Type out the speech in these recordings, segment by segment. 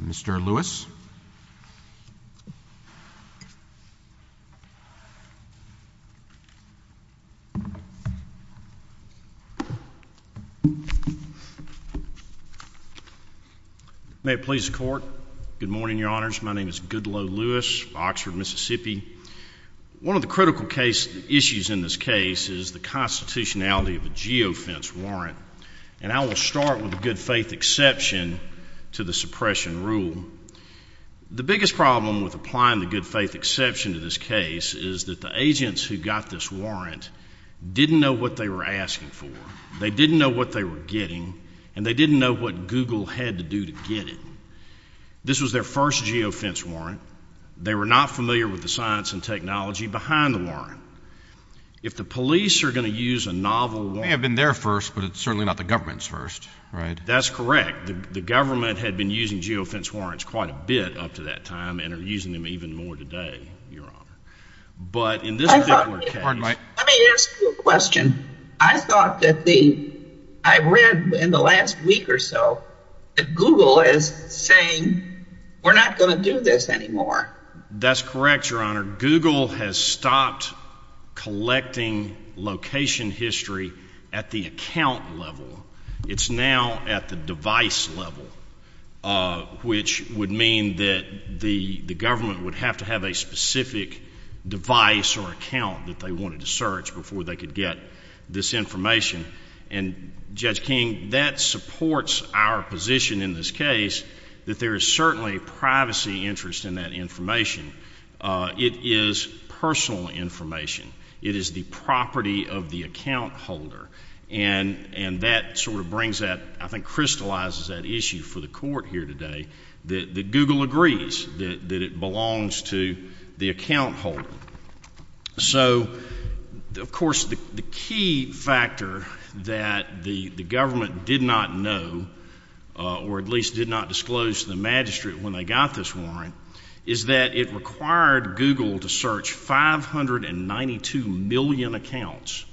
Mr. Lewis. May it please the court. Good morning, your honors. My name is Goodloe Lewis, Oxford, Mississippi. One of the critical issues in this case is the constitutionality of a geofence warrant, and I will start with a good faith exception to the suppression rule. The biggest problem with applying the good faith exception to this case is that the agents who got this warrant didn't know what they were asking for, they didn't know what they were getting, and they didn't know what Google had to do to get it. This was their first geofence warrant. They were not familiar with the science and technology behind the warrant. If the police are going to use a novel warrant... They may have been there first, but it's certainly not the government's first, right? That's correct. The government had been using geofence warrants quite a bit up to that time and are using them even more today, your honor. But in this particular case... Pardon me. Let me ask you a question. I thought that the... I read in the last week or so that Google is saying, we're not going to do this anymore. That's correct, your honor. Where Google has stopped collecting location history at the account level, it's now at the device level, which would mean that the government would have to have a specific device or account that they wanted to search before they could get this information. And Judge King, that supports our position in this case that there is certainly a privacy interest in that information. It is personal information. It is the property of the account holder. And that sort of brings that... I think crystallizes that issue for the court here today, that Google agrees that it belongs to the account holder. So of course, the key factor that the government did not know, or at least did not disclose to the magistrate when they got this warrant, is that it required Google to search 592 million accounts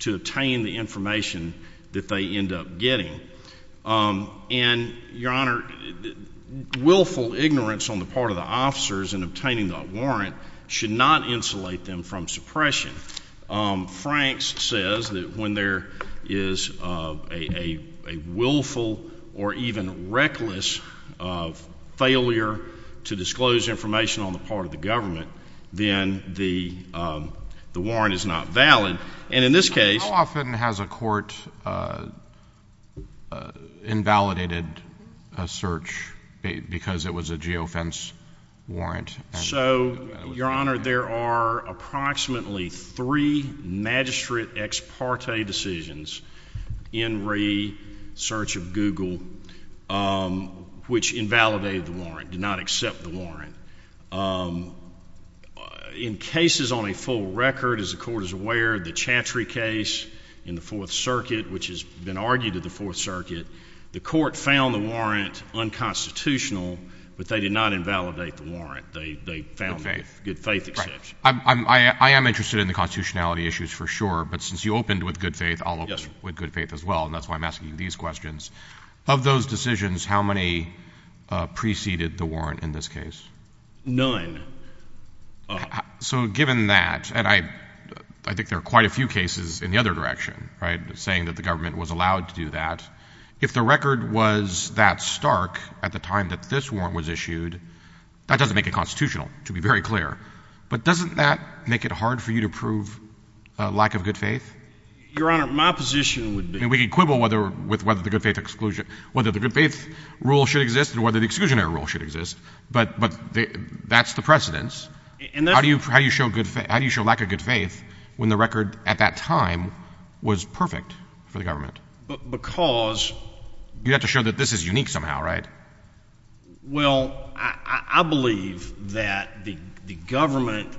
to obtain the information that they end up getting. And your honor, willful ignorance on the part of the officers in obtaining that warrant should not insulate them from suppression. Franks says that when there is a willful or even reckless failure to disclose information on the part of the government, then the warrant is not valid. And in this case... How often has a court invalidated a search because it was a geofence warrant? So your honor, there are approximately three magistrate ex parte decisions in re-search of Google, which invalidated the warrant, did not accept the warrant. In cases on a full record, as the court is aware, the Chantry case in the Fourth Circuit, which has been argued at the Fourth Circuit, the court found the warrant unconstitutional, but they did not invalidate the warrant. They found it with good faith exception. Right. I am interested in the constitutionality issues for sure, but since you opened with good faith, I'll open with good faith as well, and that's why I'm asking you these questions. Of those decisions, how many preceded the warrant in this case? None. So given that, and I think there are quite a few cases in the other direction, right, saying that the government was allowed to do that. If the record was that stark at the time that this warrant was issued, that doesn't make it constitutional, to be very clear, but doesn't that make it hard for you to prove a lack of good faith? Your honor, my position would be. We can quibble with whether the good faith rule should exist and whether the exclusionary rule should exist, but that's the precedence. How do you show lack of good faith when the record at that time was perfect for the government? Because You have to show that this is unique somehow, right? Well, I believe that the government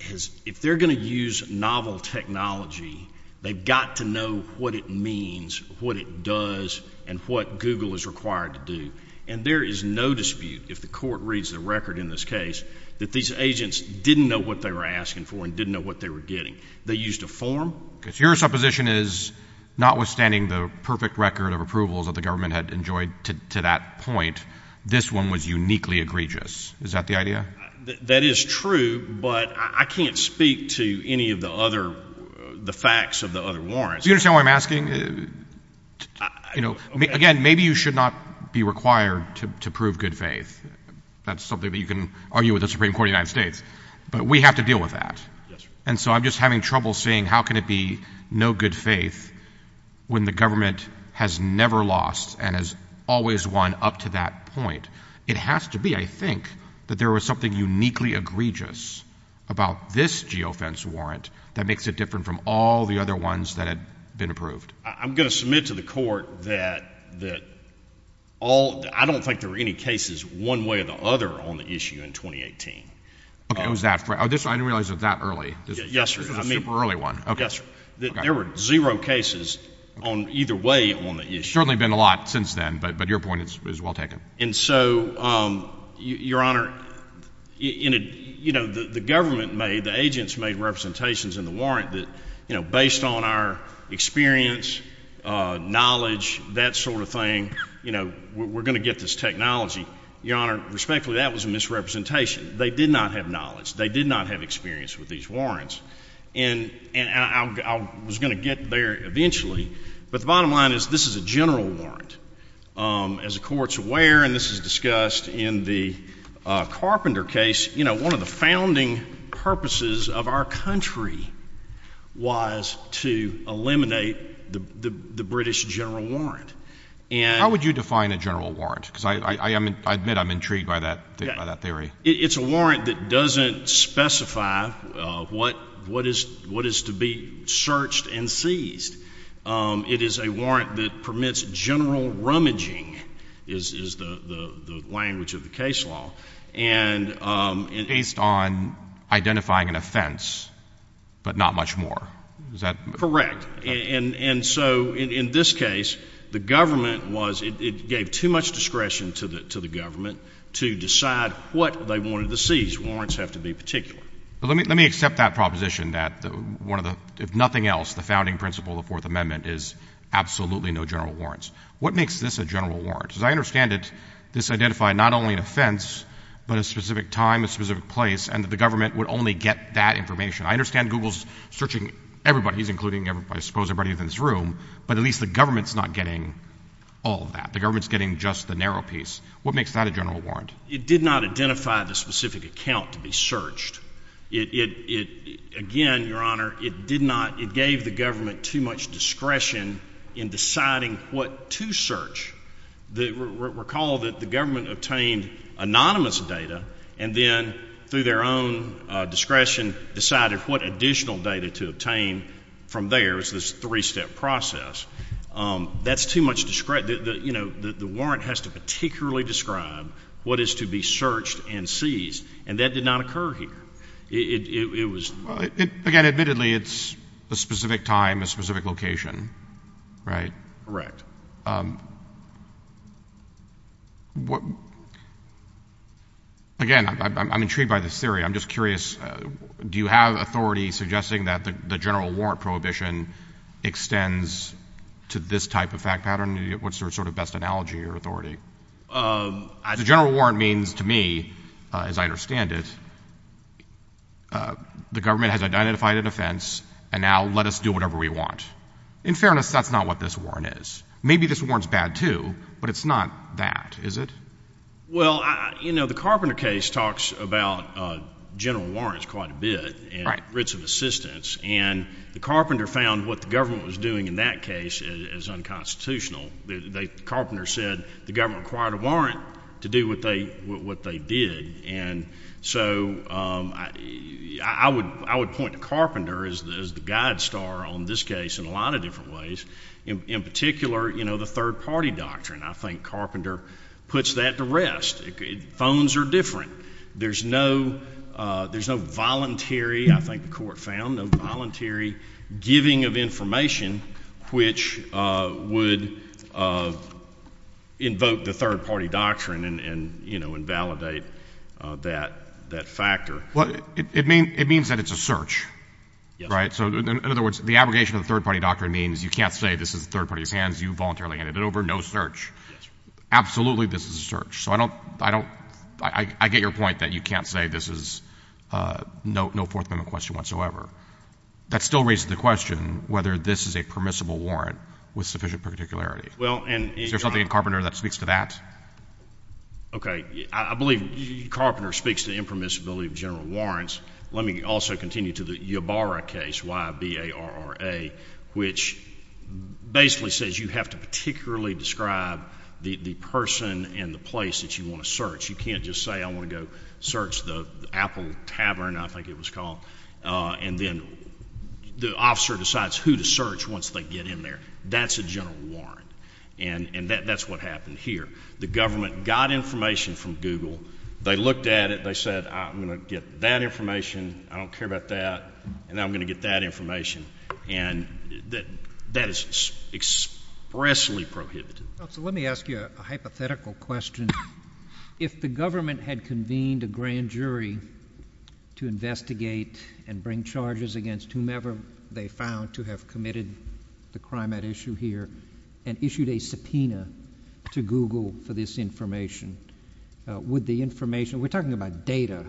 has, if they're going to use novel technology, they've got to know what it means, what it does, and what Google is required to do. And there is no dispute, if the court reads the record in this case, that these agents didn't know what they were asking for and didn't know what they were getting. They used a form. Your supposition is, notwithstanding the perfect record of approvals that the government had enjoyed to that point, this one was uniquely egregious. Is that the idea? That is true, but I can't speak to any of the other, the facts of the other warrants. Do you understand what I'm asking? You know, again, maybe you should not be required to prove good faith. That's something that you can argue with the Supreme Court of the United States, but we have to deal with that. And so I'm just having trouble seeing how can it be no good faith when the government has never lost and has always won up to that point. It has to be, I think, that there was something uniquely egregious about this geofence warrant that makes it different from all the other ones that had been approved. I'm going to submit to the court that all, I don't think there were any cases one way or the other on the issue in 2018. Okay, it was that, I didn't realize it was that early. Yes, sir. It was a super early one. Yes, sir. There were zero cases on either way on the issue. Certainly been a lot since then, but your point is well taken. And so, your honor, you know, the government made, the agents made representations in the warrant that, you know, based on our experience, knowledge, that sort of thing, you know, we're going to get this technology. Your honor, respectfully, that was a misrepresentation. They did not have knowledge. They did not have experience with these warrants. And I was going to get there eventually, but the bottom line is this is a general warrant. As the court's aware, and this is discussed in the Carpenter case, you know, one of the founding purposes of our country was to eliminate the British general warrant. How would you define a general warrant? Because I admit I'm intrigued by that theory. It's a warrant that doesn't specify what is to be searched and seized. It is a warrant that permits general rummaging, is the language of the case law. And based on identifying an offense, but not much more. Is that? Correct. And so, in this case, the government was, it gave too much discretion to the government to decide what they wanted to seize. Warrants have to be particular. But let me, let me accept that proposition that one of the, if nothing else, the founding principle of the Fourth Amendment is absolutely no general warrants. What makes this a general warrant? Because I understand that this identified not only an offense, but a specific time, a specific place, and that the government would only get that information. I understand Google's searching everybody, he's including, I suppose, everybody in this room, but at least the government's not getting all of that. The government's getting just the narrow piece. What makes that a general warrant? It did not identify the specific account to be searched. It, it, it, again, Your Honor, it did not, it gave the government too much discretion in deciding what to search. The, recall that the government obtained anonymous data, and then, through their own discretion, decided what additional data to obtain from theirs, this three-step process. That's too much discretion, the, you know, the, the warrant has to particularly describe what is to be searched and seized, and that did not occur here. It, it, it, it was. Well, it, again, admittedly, it's a specific time, a specific location, right? Correct. What, again, I'm, I'm, I'm intrigued by this theory. I'm just curious, do you have authority suggesting that the, the general warrant prohibition extends to this type of fact pattern? Do you, what's your sort of best analogy or authority? Um. The general warrant means, to me, as I understand it, the government has identified an offense, and now let us do whatever we want. In fairness, that's not what this warrant is. Maybe this warrant's bad too, but it's not that, is it? Well, I, you know, the Carpenter case talks about general warrants quite a bit, and writs of assistance, and the Carpenter found what the government was doing in that case as, as unconstitutional. They, they, Carpenter said the government required a warrant to do what they, what they did, and so, um, I, I would, I would point to Carpenter as, as the guide star on this case in a lot of different ways. In particular, you know, the third party doctrine, I think Carpenter puts that to rest. Phones are different. There's no, uh, there's no voluntary, I think the court found, no voluntary giving of information which, uh, would, uh, invoke the third party doctrine and, and, you know, invalidate, uh, that, that factor. Well, it, it means, it means that it's a search. Yes. Right? So, in other words, the abrogation of the third party doctrine means you can't say this is the third party's hands, you voluntarily handed it over, no search. Yes. Absolutely this is a search. So, I don't, I don't, I, I get your point that you can't say this is, uh, no, no Fourth Amendment question whatsoever. That still raises the question whether this is a permissible warrant with sufficient particularity. Well, and— Is there something in Carpenter that speaks to that? Okay. I, I believe Carpenter speaks to impermissibility of general warrants. Let me also continue to the Ybarra case, Y-B-A-R-R-A, which basically says you have to particularly describe the, the person and the place that you want to search. You can't just say I want to go search the Apple Tavern, I think it was called, uh, and then the officer decides who to search once they get in there. That's a general warrant, and, and that, that's what happened here. The government got information from Google. They looked at it. They said, I'm going to get that information, I don't care about that, and I'm going to get that information, and that, that is expressly prohibited. Well, so let me ask you a hypothetical question. If the government had convened a grand jury to investigate and bring charges against whomever they found to have committed the crime at issue here and issued a subpoena to Google for this information, uh, would the information—we're talking about data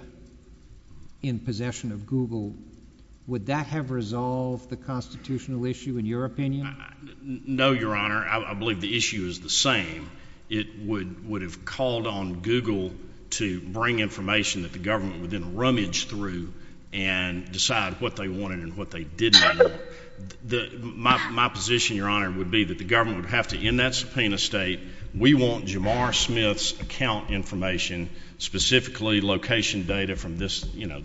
in possession of Google—would that have resolved the constitutional issue, in your opinion? No, Your Honor, I, I believe the issue is the same. It would, would have called on Google to bring information that the government would then rummage through and decide what they wanted and what they didn't want. The, my, my position, Your Honor, would be that the government would have to end that subpoena state. We want Jamar Smith's account information, specifically location data from this, you know,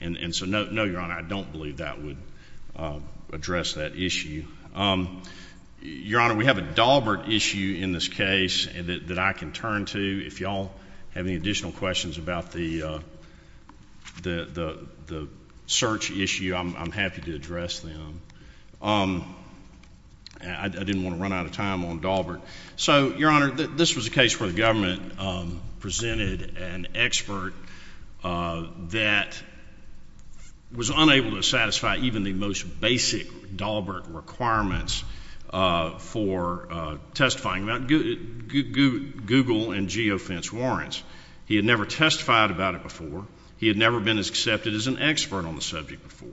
and, and so no, no, Your Honor, I don't believe that would, uh, address that issue. Um, Your Honor, we have a Daubert issue in this case that, that I can turn to. If y'all have any additional questions about the, uh, the, the, the search issue, I'm, I'm happy to address them. Um, I, I didn't want to run out of time on Daubert. So, Your Honor, this was a case where the government, um, presented an expert, uh, that was unable to satisfy even the most basic Daubert requirements, uh, for, uh, testifying about goo, goo, goo, Google and geofence warrants. He had never testified about it before. He had never been as accepted as an expert on the subject before.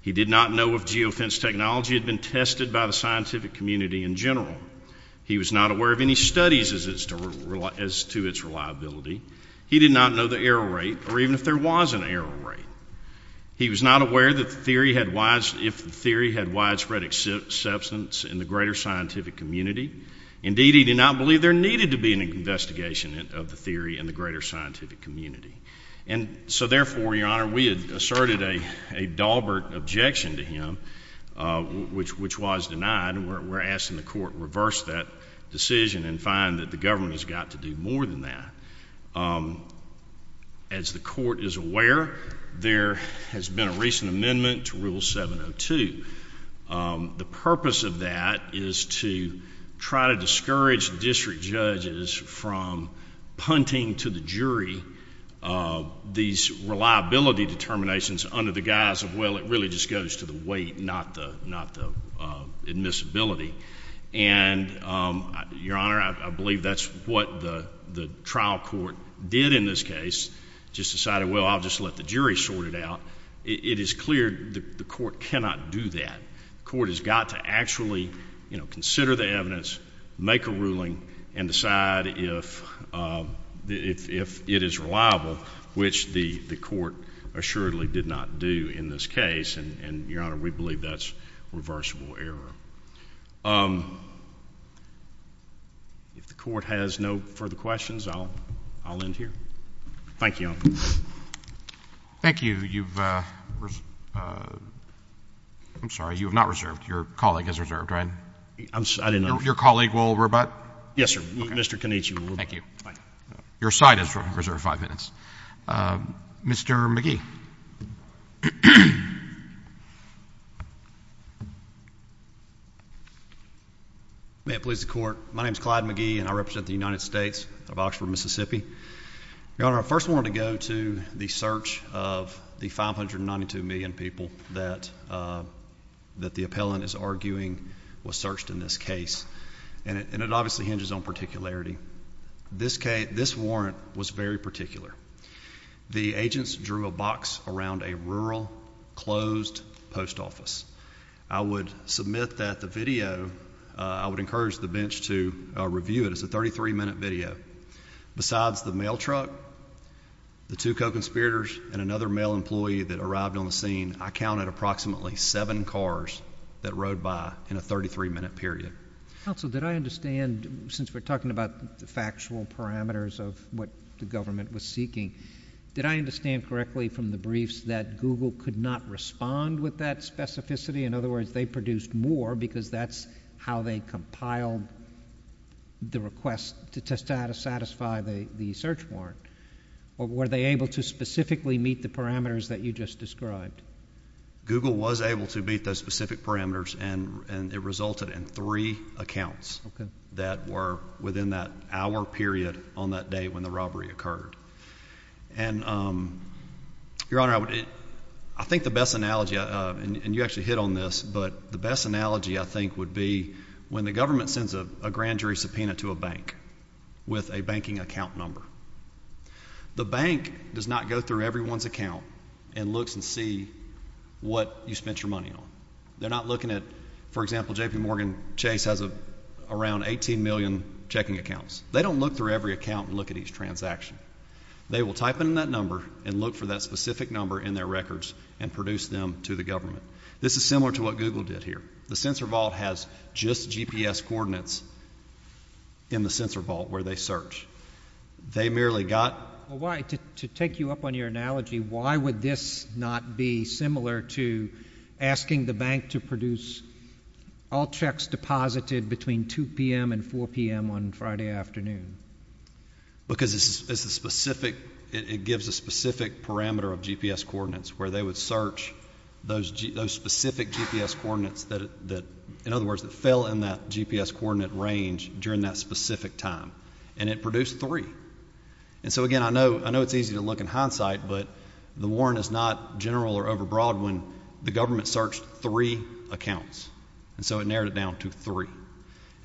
He did not know if geofence technology had been tested by the scientific community in general. He was not aware of any studies as to, as to its reliability. He did not know the error rate, or even if there was an error rate. He was not aware that the theory had widespread, if the theory had widespread acceptance in the greater scientific community. Indeed, he did not believe there needed to be an investigation of the theory in the greater scientific community. And so therefore, Your Honor, we asserted a, a Daubert objection to him, uh, which, which was denied. And we're, we're asking the court reverse that decision and find that the government has got to do more than that. Um, as the court is aware, there has been a recent amendment to Rule 702. Um, the purpose of that is to try to discourage district judges from punting to the jury, uh, these reliability determinations under the guise of, well, it really just goes to the weight, not the, not the, uh, admissibility. And um, Your Honor, I, I believe that's what the, the trial court did in this case. Just decided, well, I'll just let the jury sort it out. It is clear that the court cannot do that. Court has got to actually, you know, consider the evidence, make a ruling, and decide if, uh, if, if it is reliable, which the, the court assuredly did not do in this case. And, and, Your Honor, we believe that's reversible error. Um, if the court has no further questions, I'll, I'll end here. Thank you, Your Honor. Thank you. You've, uh, uh, I'm sorry, you have not reserved. Your colleague has reserved, right? I'm, I didn't know. Your colleague will rebut? Yes, sir. Okay. Mr. Canici will rebut. Thank you. Bye. Your side has reserved five minutes. Um, Mr. McGee. May it please the court, my name is Clyde McGee, and I represent the United States of Oxford, Mississippi. Your Honor, I first wanted to go to the search of the 592 million people that, uh, that the appellant is arguing was searched in this case. And it, and it obviously hinges on particularity. This case, this warrant was very particular. The agents drew a box around a rural, closed post office. I would submit that the video, uh, I would encourage the bench to, uh, review it. It's a 33-minute video. Besides the mail truck, the two co-conspirators, and another mail employee that arrived on the scene, I counted approximately seven cars that rode by in a 33-minute period. Counsel, did I understand, since we're talking about the factual parameters of what the government was seeking, did I understand correctly from the briefs that Google could not respond with that specificity? In other words, they produced more, because that's how they compiled the request to test how to satisfy the, the search warrant. Were they able to specifically meet the parameters that you just described? Google was able to meet those specific parameters, and, and it resulted in three accounts that were within that hour period on that day when the robbery occurred. And, um, Your Honor, I would, I think the best analogy, uh, and, and you actually hit on this, but the best analogy I think would be when the government sends a, a grand jury subpoena to a bank with a banking account number. The bank does not go through everyone's account and looks and see what you spent your money on. They're not looking at, for example, JPMorgan Chase has a, around 18 million checking accounts. They don't look through every account and look at each transaction. They will type in that number and look for that specific number in their records and produce them to the government. This is similar to what Google did here. The censor vault has just GPS coordinates in the censor vault where they search. They merely got... the bank to produce all checks deposited between 2 p.m. and 4 p.m. on Friday afternoon. Because it's a specific, it gives a specific parameter of GPS coordinates where they would search those, those specific GPS coordinates that, that, in other words, that fell in that GPS coordinate range during that specific time. And it produced three. And so again, I know, I know it's easy to look in hindsight, but the warrant is not general or overbroad when the government searched three accounts. And so it narrowed it down to three.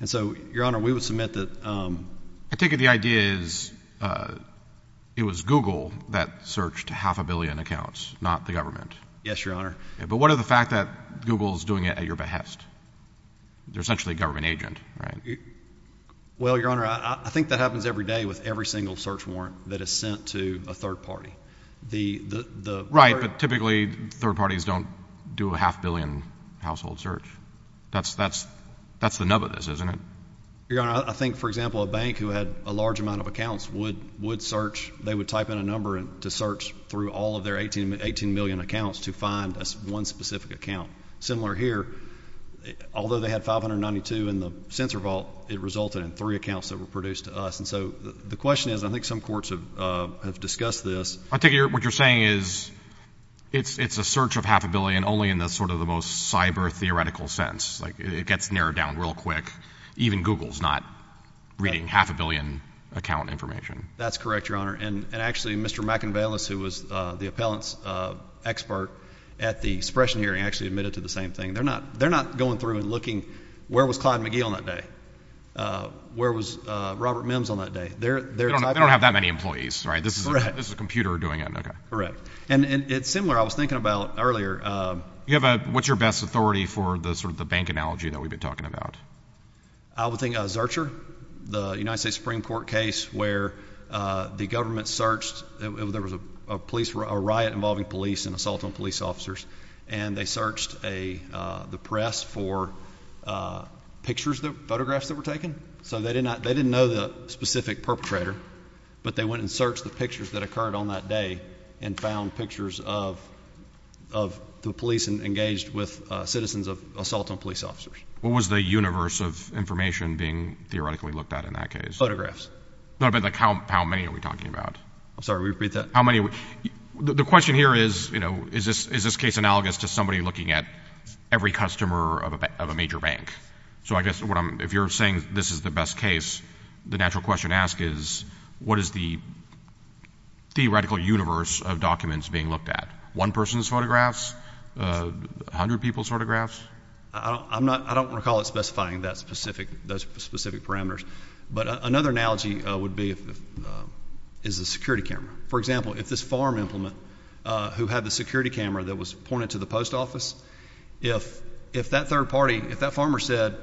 And so, Your Honor, we would submit that... I take it the idea is, uh, it was Google that searched half a billion accounts, not the government. Yes, Your Honor. But what of the fact that Google is doing it at your behest? They're essentially a government agent, right? Well, Your Honor, I think that happens every day with every single search warrant that is sent to a third party. The, the, the... Right, but typically third parties don't do a half billion household search. That's, that's, that's the nub of this, isn't it? Your Honor, I think, for example, a bank who had a large amount of accounts would, would search, they would type in a number to search through all of their 18 million accounts to find one specific account. Similar here, although they had 592 in the censor vault, it resulted in three accounts that were produced to us. And so the question is, I think some courts have, uh, have discussed this. I take it what you're saying is, it's, it's a search of half a billion only in the sort of the most cyber theoretical sense, like it gets narrowed down real quick. Even Google's not reading half a billion account information. That's correct, Your Honor. And, and actually Mr. McInvales, who was, uh, the appellant's, uh, expert at the suppression hearing actually admitted to the same thing. They're not, they're not going through and looking, where was Clyde McGee on that day? Uh, where was, uh, Robert Mims on that day? They're, they're, they don't have that many employees, right? This is a, this is a computer doing it. Okay. Correct. And, and it's similar. I was thinking about earlier. Um, you have a, what's your best authority for the sort of the bank analogy that we've been talking about? I would think, uh, Zurcher, the United States Supreme Court case where, uh, the government searched and there was a police, a riot involving police and assault on police officers. And they searched a, uh, the press for, uh, pictures that, photographs that were taken. So they did not, they didn't know the specific perpetrator, but they went and searched the pictures that occurred on that day and found pictures of, of the police engaged with, uh, citizens of assault on police officers. What was the universe of information being theoretically looked at in that case? Photographs. No, but like how, how many are we talking about? I'm sorry, repeat that. How many? So the question here is, you know, is this, is this case analogous to somebody looking at every customer of a, of a major bank? So I guess what I'm, if you're saying this is the best case, the natural question to ask is what is the theoretical universe of documents being looked at? One person's photographs, a hundred people's photographs. I don't, I'm not, I don't recall it specifying that specific, those specific parameters, but another analogy, uh, would be if, uh, is the security camera. For example, if this farm implement, uh, who had the security camera that was pointed to the post office, if, if that third party, if that farmer said,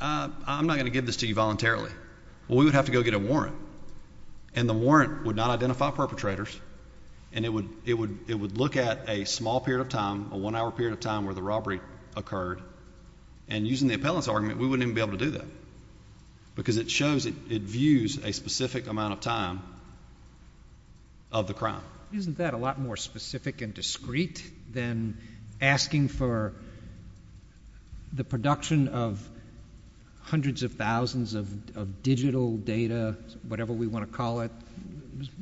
uh, I'm not going to give this to you voluntarily, well, we would have to go get a warrant and the warrant would not identify perpetrators. And it would, it would, it would look at a small period of time, a one hour period of time where the robbery occurred. And using the appellants argument, we wouldn't even be able to do that because it shows it, it views a specific amount of time of the crime. Isn't that a lot more specific and discreet than asking for the production of hundreds of thousands of digital data, whatever we want to call it,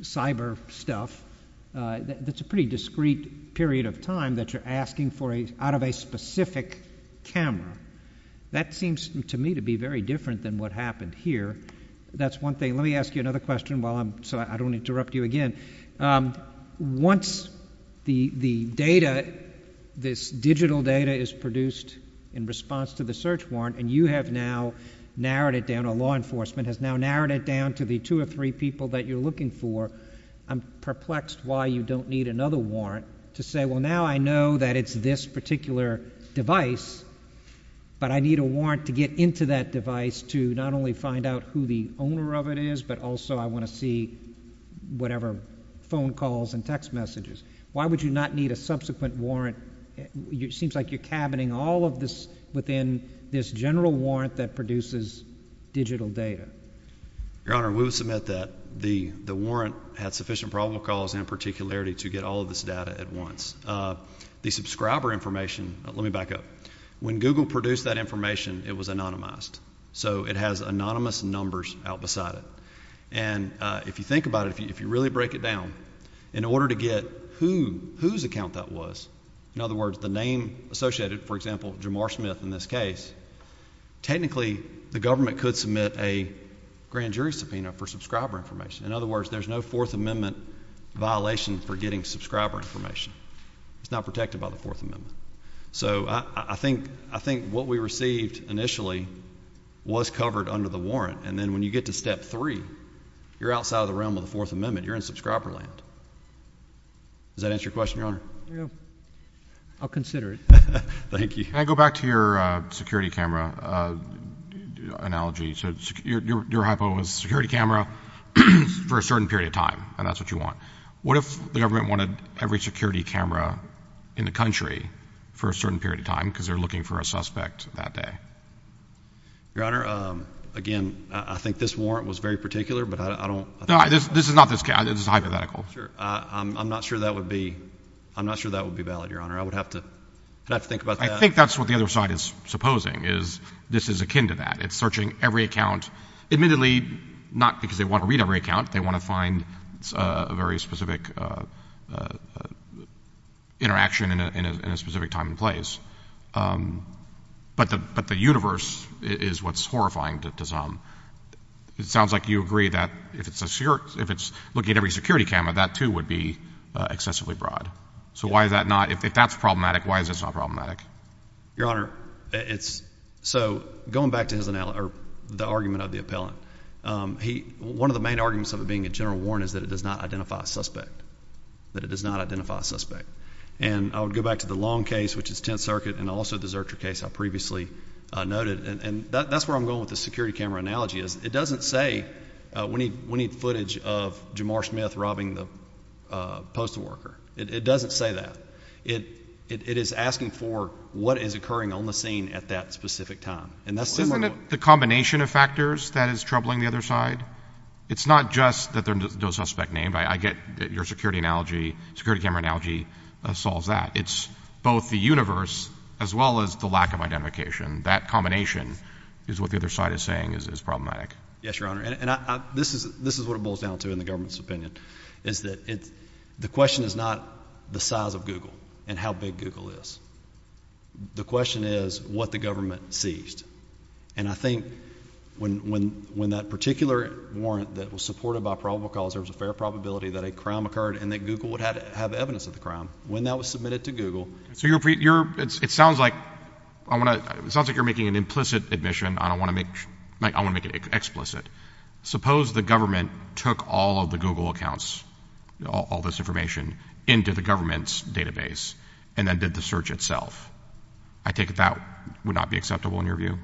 cyber stuff, uh, that's a pretty discreet period of time that you're asking for a, out of a specific camera. That seems to me to be very different than what happened here. That's one thing. Let me ask you another question while I'm, so I don't interrupt you again. Um, once the, the data, this digital data is produced in response to the search warrant and you have now narrowed it down, a law enforcement has now narrowed it down to the two or three people that you're looking for. I'm perplexed why you don't need another warrant to say, well, now I know that it's this particular device, but I need a warrant to get into that device to not only find out who the owner of it is, but also I want to see whatever phone calls and text messages. Why would you not need a subsequent warrant? Seems like you're cabining all of this within this general warrant that produces digital data. Your Honor, we will submit that the, the warrant had sufficient probable cause and particularity to get all of this data at once. The subscriber information, let me back up. When Google produced that information, it was anonymized. So it has anonymous numbers out beside it. And if you think about it, if you, if you really break it down in order to get who, whose account that was, in other words, the name associated, for example, Jamar Smith in this case, technically the government could submit a grand jury subpoena for subscriber information. In other words, there's no Fourth Amendment violation for getting subscriber information. It's not protected by the Fourth Amendment. So I think, I think what we received initially was covered under the warrant. And then when you get to step three, you're outside of the realm of the Fourth Amendment. You're in subscriber land. Does that answer your question, Your Honor? I'll consider it. Thank you. Can I go back to your security camera analogy? So your hypo is security camera for a certain period of time, and that's what you want. What if the government wanted every security camera in the country for a certain period of time, because they're looking for a suspect that day? Your Honor, again, I think this warrant was very particular, but I don't, this is hypothetical. I'm not sure that would be, I'm not sure that would be valid, Your Honor. I would have to, I'd have to think about that. I think that's what the other side is supposing, is this is akin to that. It's searching every account, admittedly, not because they want to read every account. They want to find a very specific interaction in a specific time and place. But the, but the universe is what's horrifying to some. It sounds like you agree that if it's a, if it's looking at every security camera, that too would be excessively broad. So why is that not, if that's problematic, why is this not problematic? Your Honor, it's, so going back to his, or the argument of the appellant, he, one of the main arguments of it being a general warrant is that it does not identify a suspect, that it does not identify a suspect. And I would go back to the Long case, which is Tenth Circuit, and also the Zurcher case I previously noted, and that's where I'm going with the security camera analogy, is it doesn't say we need, we need footage of Jamar Smith robbing the postal worker. It doesn't say that. It, it is asking for what is occurring on the scene at that specific time. And that's similar to the combination of factors that is troubling the other side. It's not just that there's no suspect named. I get your security analogy, security camera analogy solves that. It's both the universe as well as the lack of identification. That combination is what the other side is saying is problematic. Yes, Your Honor. And I, this is, this is what it boils down to in the government's opinion, is that it's, the question is not the size of Google and how big Google is. The question is what the government seized. And I think when, when, when that particular warrant that was supported by probable cause, there was a fair probability that a crime occurred and that Google would have to have evidence of the crime when that was submitted to Google. So you're, it sounds like, I want to, it sounds like you're making an implicit admission. I don't want to make, I want to make it explicit. Suppose the government took all of the Google accounts, all this information into the government's database and then did the search itself. I take it that would not be acceptable in your view?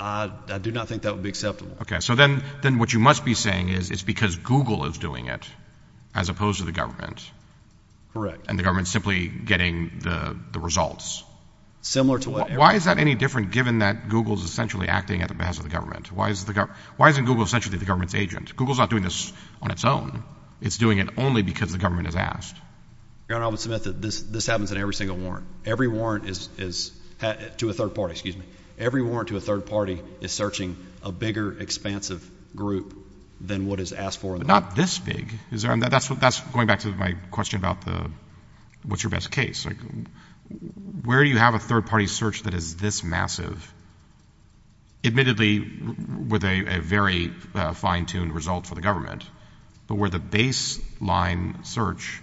I do not think that would be acceptable. Okay. So then, then what you must be saying is it's because Google is doing it as opposed to the government. Correct. And the government simply getting the results. Similar to what? Why is that any different given that Google is essentially acting at the behest of the government? Why is the government? Why isn't Google essentially the government's agent? Google's not doing this on its own. It's doing it only because the government has asked. Your Honor, I will submit that this, this happens in every single warrant. Every warrant is, is to a third party, excuse me. Every warrant to a third party is searching a bigger expansive group than what is asked for in the law. But not this big. Is there, and that's what, that's going back to my question about the, what's your best case? Like where you have a third party search that is this massive, admittedly with a, a very fine tuned result for the government, but where the baseline search,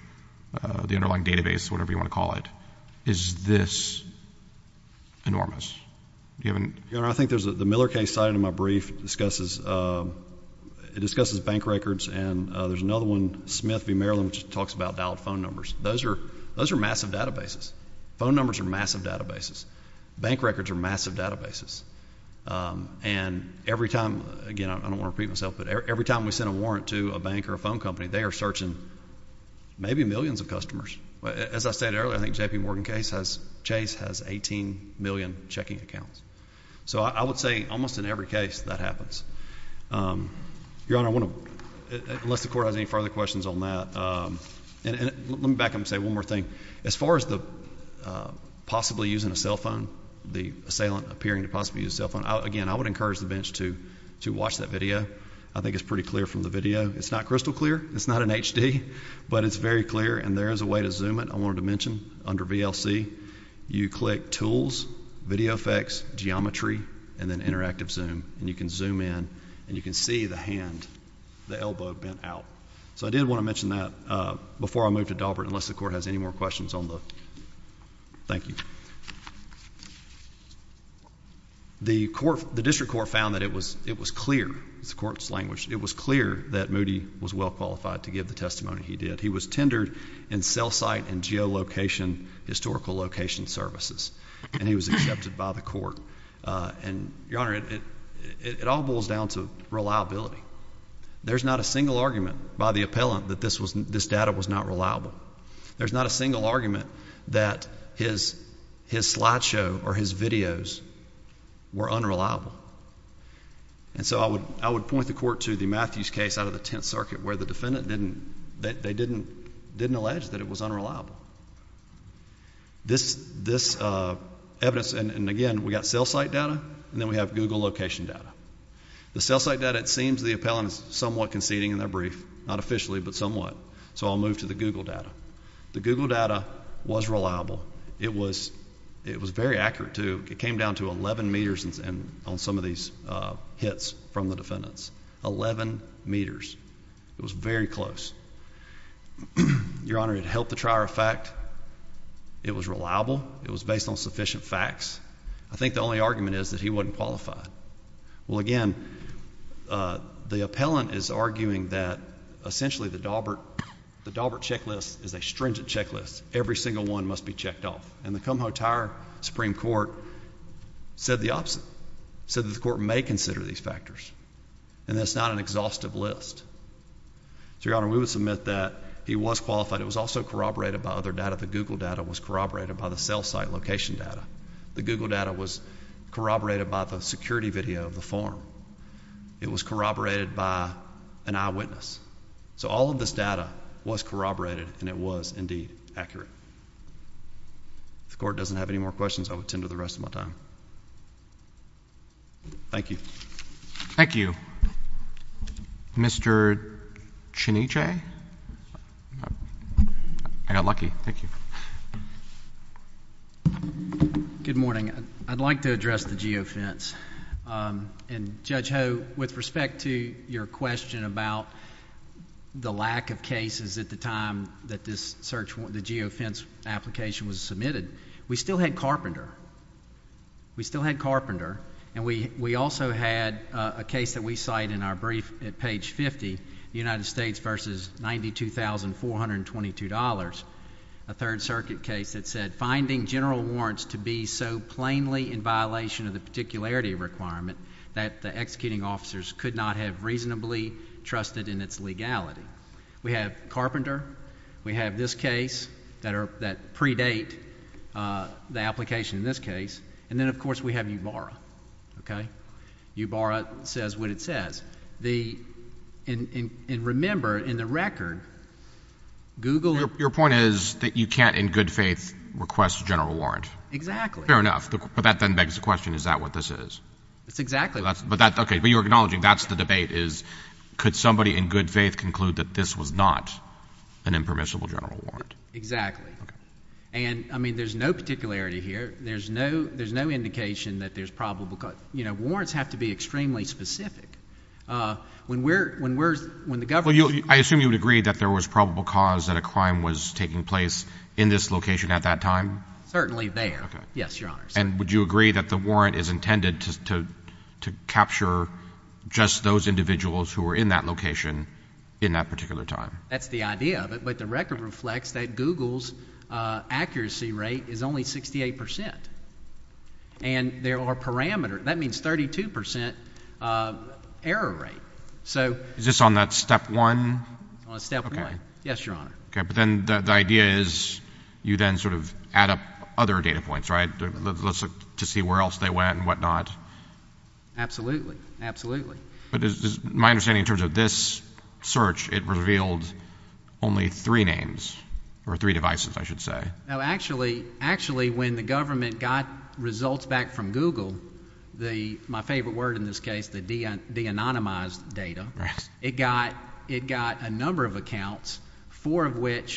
uh, the underlying database, whatever you want to call it, is this enormous? You haven't. Your Honor, I think there's a, the Miller case cited in my brief discusses, uh, it discusses bank records and, uh, there's another one, Smith v. Maryland, which talks about dialed phone numbers. Those are, those are massive databases. Phone numbers are massive databases. Bank records are massive databases. Um, and every time, again, I don't want to repeat myself, but every time we send a warrant to a bank or a phone company, they are searching maybe millions of customers. As I said earlier, I think JP Morgan case has, Chase has 18 million checking accounts. So I would say almost in every case that happens. Um, Your Honor, I want to, unless the court has any further questions on that. Um, and, and let me back up and say one more thing. As far as the, uh, possibly using a cell phone, the assailant appearing to possibly use a cell phone. I, again, I would encourage the bench to, to watch that video. I think it's pretty clear from the video. It's not crystal clear. It's not an HD, but it's very clear. And there is a way to zoom it. I wanted to mention under VLC, you click tools, video effects, geometry, and then interactive zoom, and you can zoom in and you can see the hand, the elbow bent out. So I did want to mention that, uh, before I moved to Daubert, unless the court has any more questions on the, thank you. The court, the district court found that it was, it was clear, it's the court's language. It was clear that Moody was well qualified to give the testimony he did. He was tendered in cell site and geo location, historical location services, and he was accepted by the court. Uh, and Your Honor, it, it, it all boils down to reliability. There's not a single argument by the appellant that this was, this data was not reliable. There's not a single argument that his, his slideshow or his videos were unreliable. And so I would, I would point the court to the Matthews case out of the 10th circuit where the defendant didn't, they didn't, didn't allege that it was unreliable. This, this, uh, evidence, and, and again, we got cell site data and then we have Google location data. The cell site data, it seems the appellant is somewhat conceding in their brief, not officially, but somewhat. So I'll move to the Google data. The Google data was reliable. It was, it was very accurate to, it came down to 11 meters and on some of these, uh, hits from the defendants, 11 meters, it was very close. Your Honor had helped the trier of fact it was reliable. It was based on sufficient facts. I think the only argument is that he wasn't qualified. Well again, uh, the appellant is arguing that essentially the Daubert, the Daubert checklist is a stringent checklist. Every single one must be checked off. And the Kumho tire Supreme court said the opposite, said that the court may consider these factors and that's not an exhaustive list. So Your Honor, we would submit that he was qualified. It was also corroborated by other data. The Google data was corroborated by the cell site location data. The Google data was corroborated by the security video of the form. It was corroborated by an eyewitness. So all of this data was corroborated and it was indeed accurate. If the court doesn't have any more questions, I would tend to the rest of my time. Thank you. Thank you. Mr. Cheniche. I got lucky. Thank you. Good morning. I'd like to address the geofence. And Judge Ho, with respect to your question about the lack of cases at the time that this search, the geofence application was submitted, we still had Carpenter. We still had Carpenter. And we also had a case that we cite in our brief at page 50, the United States versus $92,422, a Third Circuit case that said, finding general warrants to be so plainly in violation of the particularity requirement that the executing officers could not have reasonably trusted in its legality. We have Carpenter. We have this case that predate the application in this case. And then, of course, we have Ubarra, okay? Ubarra says what it says. And remember, in the record, Google... Your point is that you can't, in good faith, request a general warrant. Exactly. Fair enough. But that then begs the question, is that what this is? That's exactly... Okay. But you're acknowledging that's the debate is, could somebody in good faith conclude that this was not an impermissible general warrant? Exactly. Okay. And, I mean, there's no particularity here. There's no indication that there's probable... you know, warrants have to be extremely specific. When we're... when the government... I assume you would agree that there was probable cause that a crime was taking place in this location at that time? Certainly there. Okay. Yes, Your Honor. And would you agree that the warrant is intended to capture just those individuals who were in that location in that particular time? That's the idea of it. But the record reflects that Google's accuracy rate is only 68 percent. And there are parameters. That means 32 percent error rate. So... Is this on that Step 1? On Step 1. Okay. Yes, Your Honor. Okay. But then the idea is, you then sort of add up other data points, right, to see where else they went and whatnot? Absolutely. Absolutely. But is my understanding in terms of this search, it revealed only three names, or three devices, I should say. No, actually, when the government got results back from Google, my favorite word in this case, the de-anonymized data, it got a number of accounts, four of which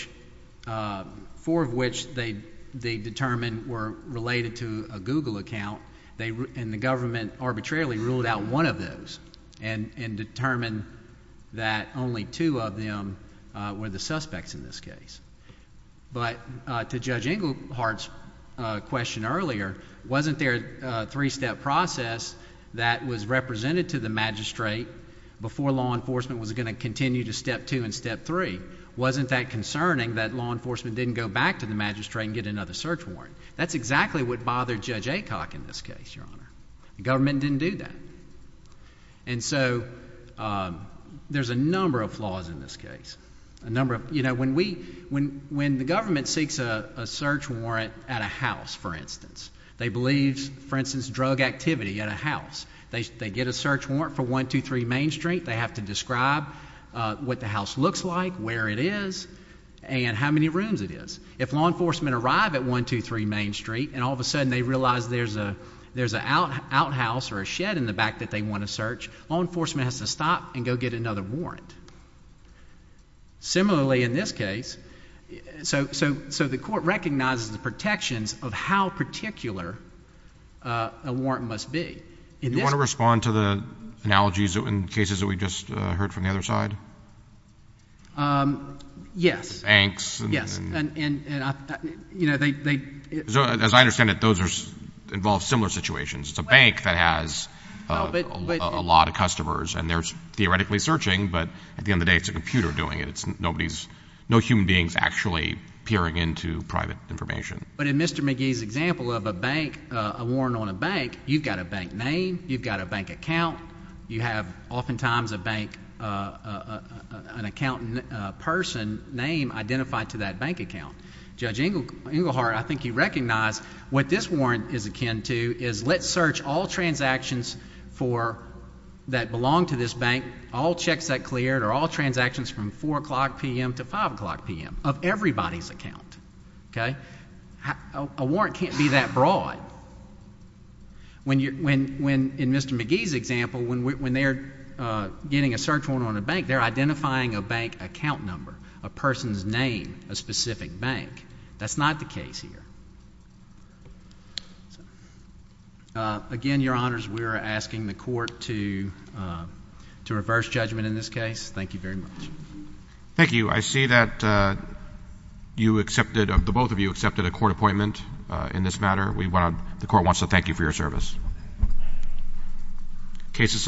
they determined were related to a Google account, and the government arbitrarily ruled out one of those and determined that only two of them were the suspects in this case. But to Judge Englehart's question earlier, wasn't there a three-step process that was represented to the magistrate before law enforcement was going to continue to Step 2 and Step 3? Wasn't that concerning that law enforcement didn't go back to the magistrate and get another search warrant? That's exactly what bothered Judge Aycock in this case, Your Honor. The government didn't do that. And so, there's a number of flaws in this case. A number of, you know, when we, when the government seeks a search warrant at a house, for instance, they believe, for instance, drug activity at a house. They get a search warrant for 123 Main Street. They have to describe what the house looks like, where it is, and how many rooms it is. If law enforcement arrive at 123 Main Street, and all of a sudden they realize there's an outhouse or a shed in the back that they want to search, law enforcement has to stop and go get another warrant. Similarly, in this case, so the court recognizes the protections of how particular a warrant must be. Do you want to respond to the analogies in cases that we just heard from the other side? Yes. Banks. Yes. And, you know, they. As I understand it, those involve similar situations. It's a bank that has a lot of customers, and they're theoretically searching, but at the end of the day, it's a computer doing it. It's nobody's, no human being's actually peering into private information. But in Mr. McGee's example of a bank, a warrant on a bank, you've got a bank name. You've got a bank account. You have, oftentimes, a bank, an account person name identified to that bank account. Judge Englehart, I think you recognize, what this warrant is akin to is let's search all transactions for, that belong to this bank, all checks that cleared, or all transactions from 4 o'clock p.m. to 5 o'clock p.m. of everybody's account, okay? A warrant can't be that broad. When in Mr. McGee's example, when they're getting a search warrant on a bank, they're the bank. That's not the case here. Again, Your Honors, we're asking the court to reverse judgment in this case. Thank you very much. Thank you. I see that you accepted, the both of you accepted a court appointment in this matter. The court wants to thank you for your service. Case is submitted.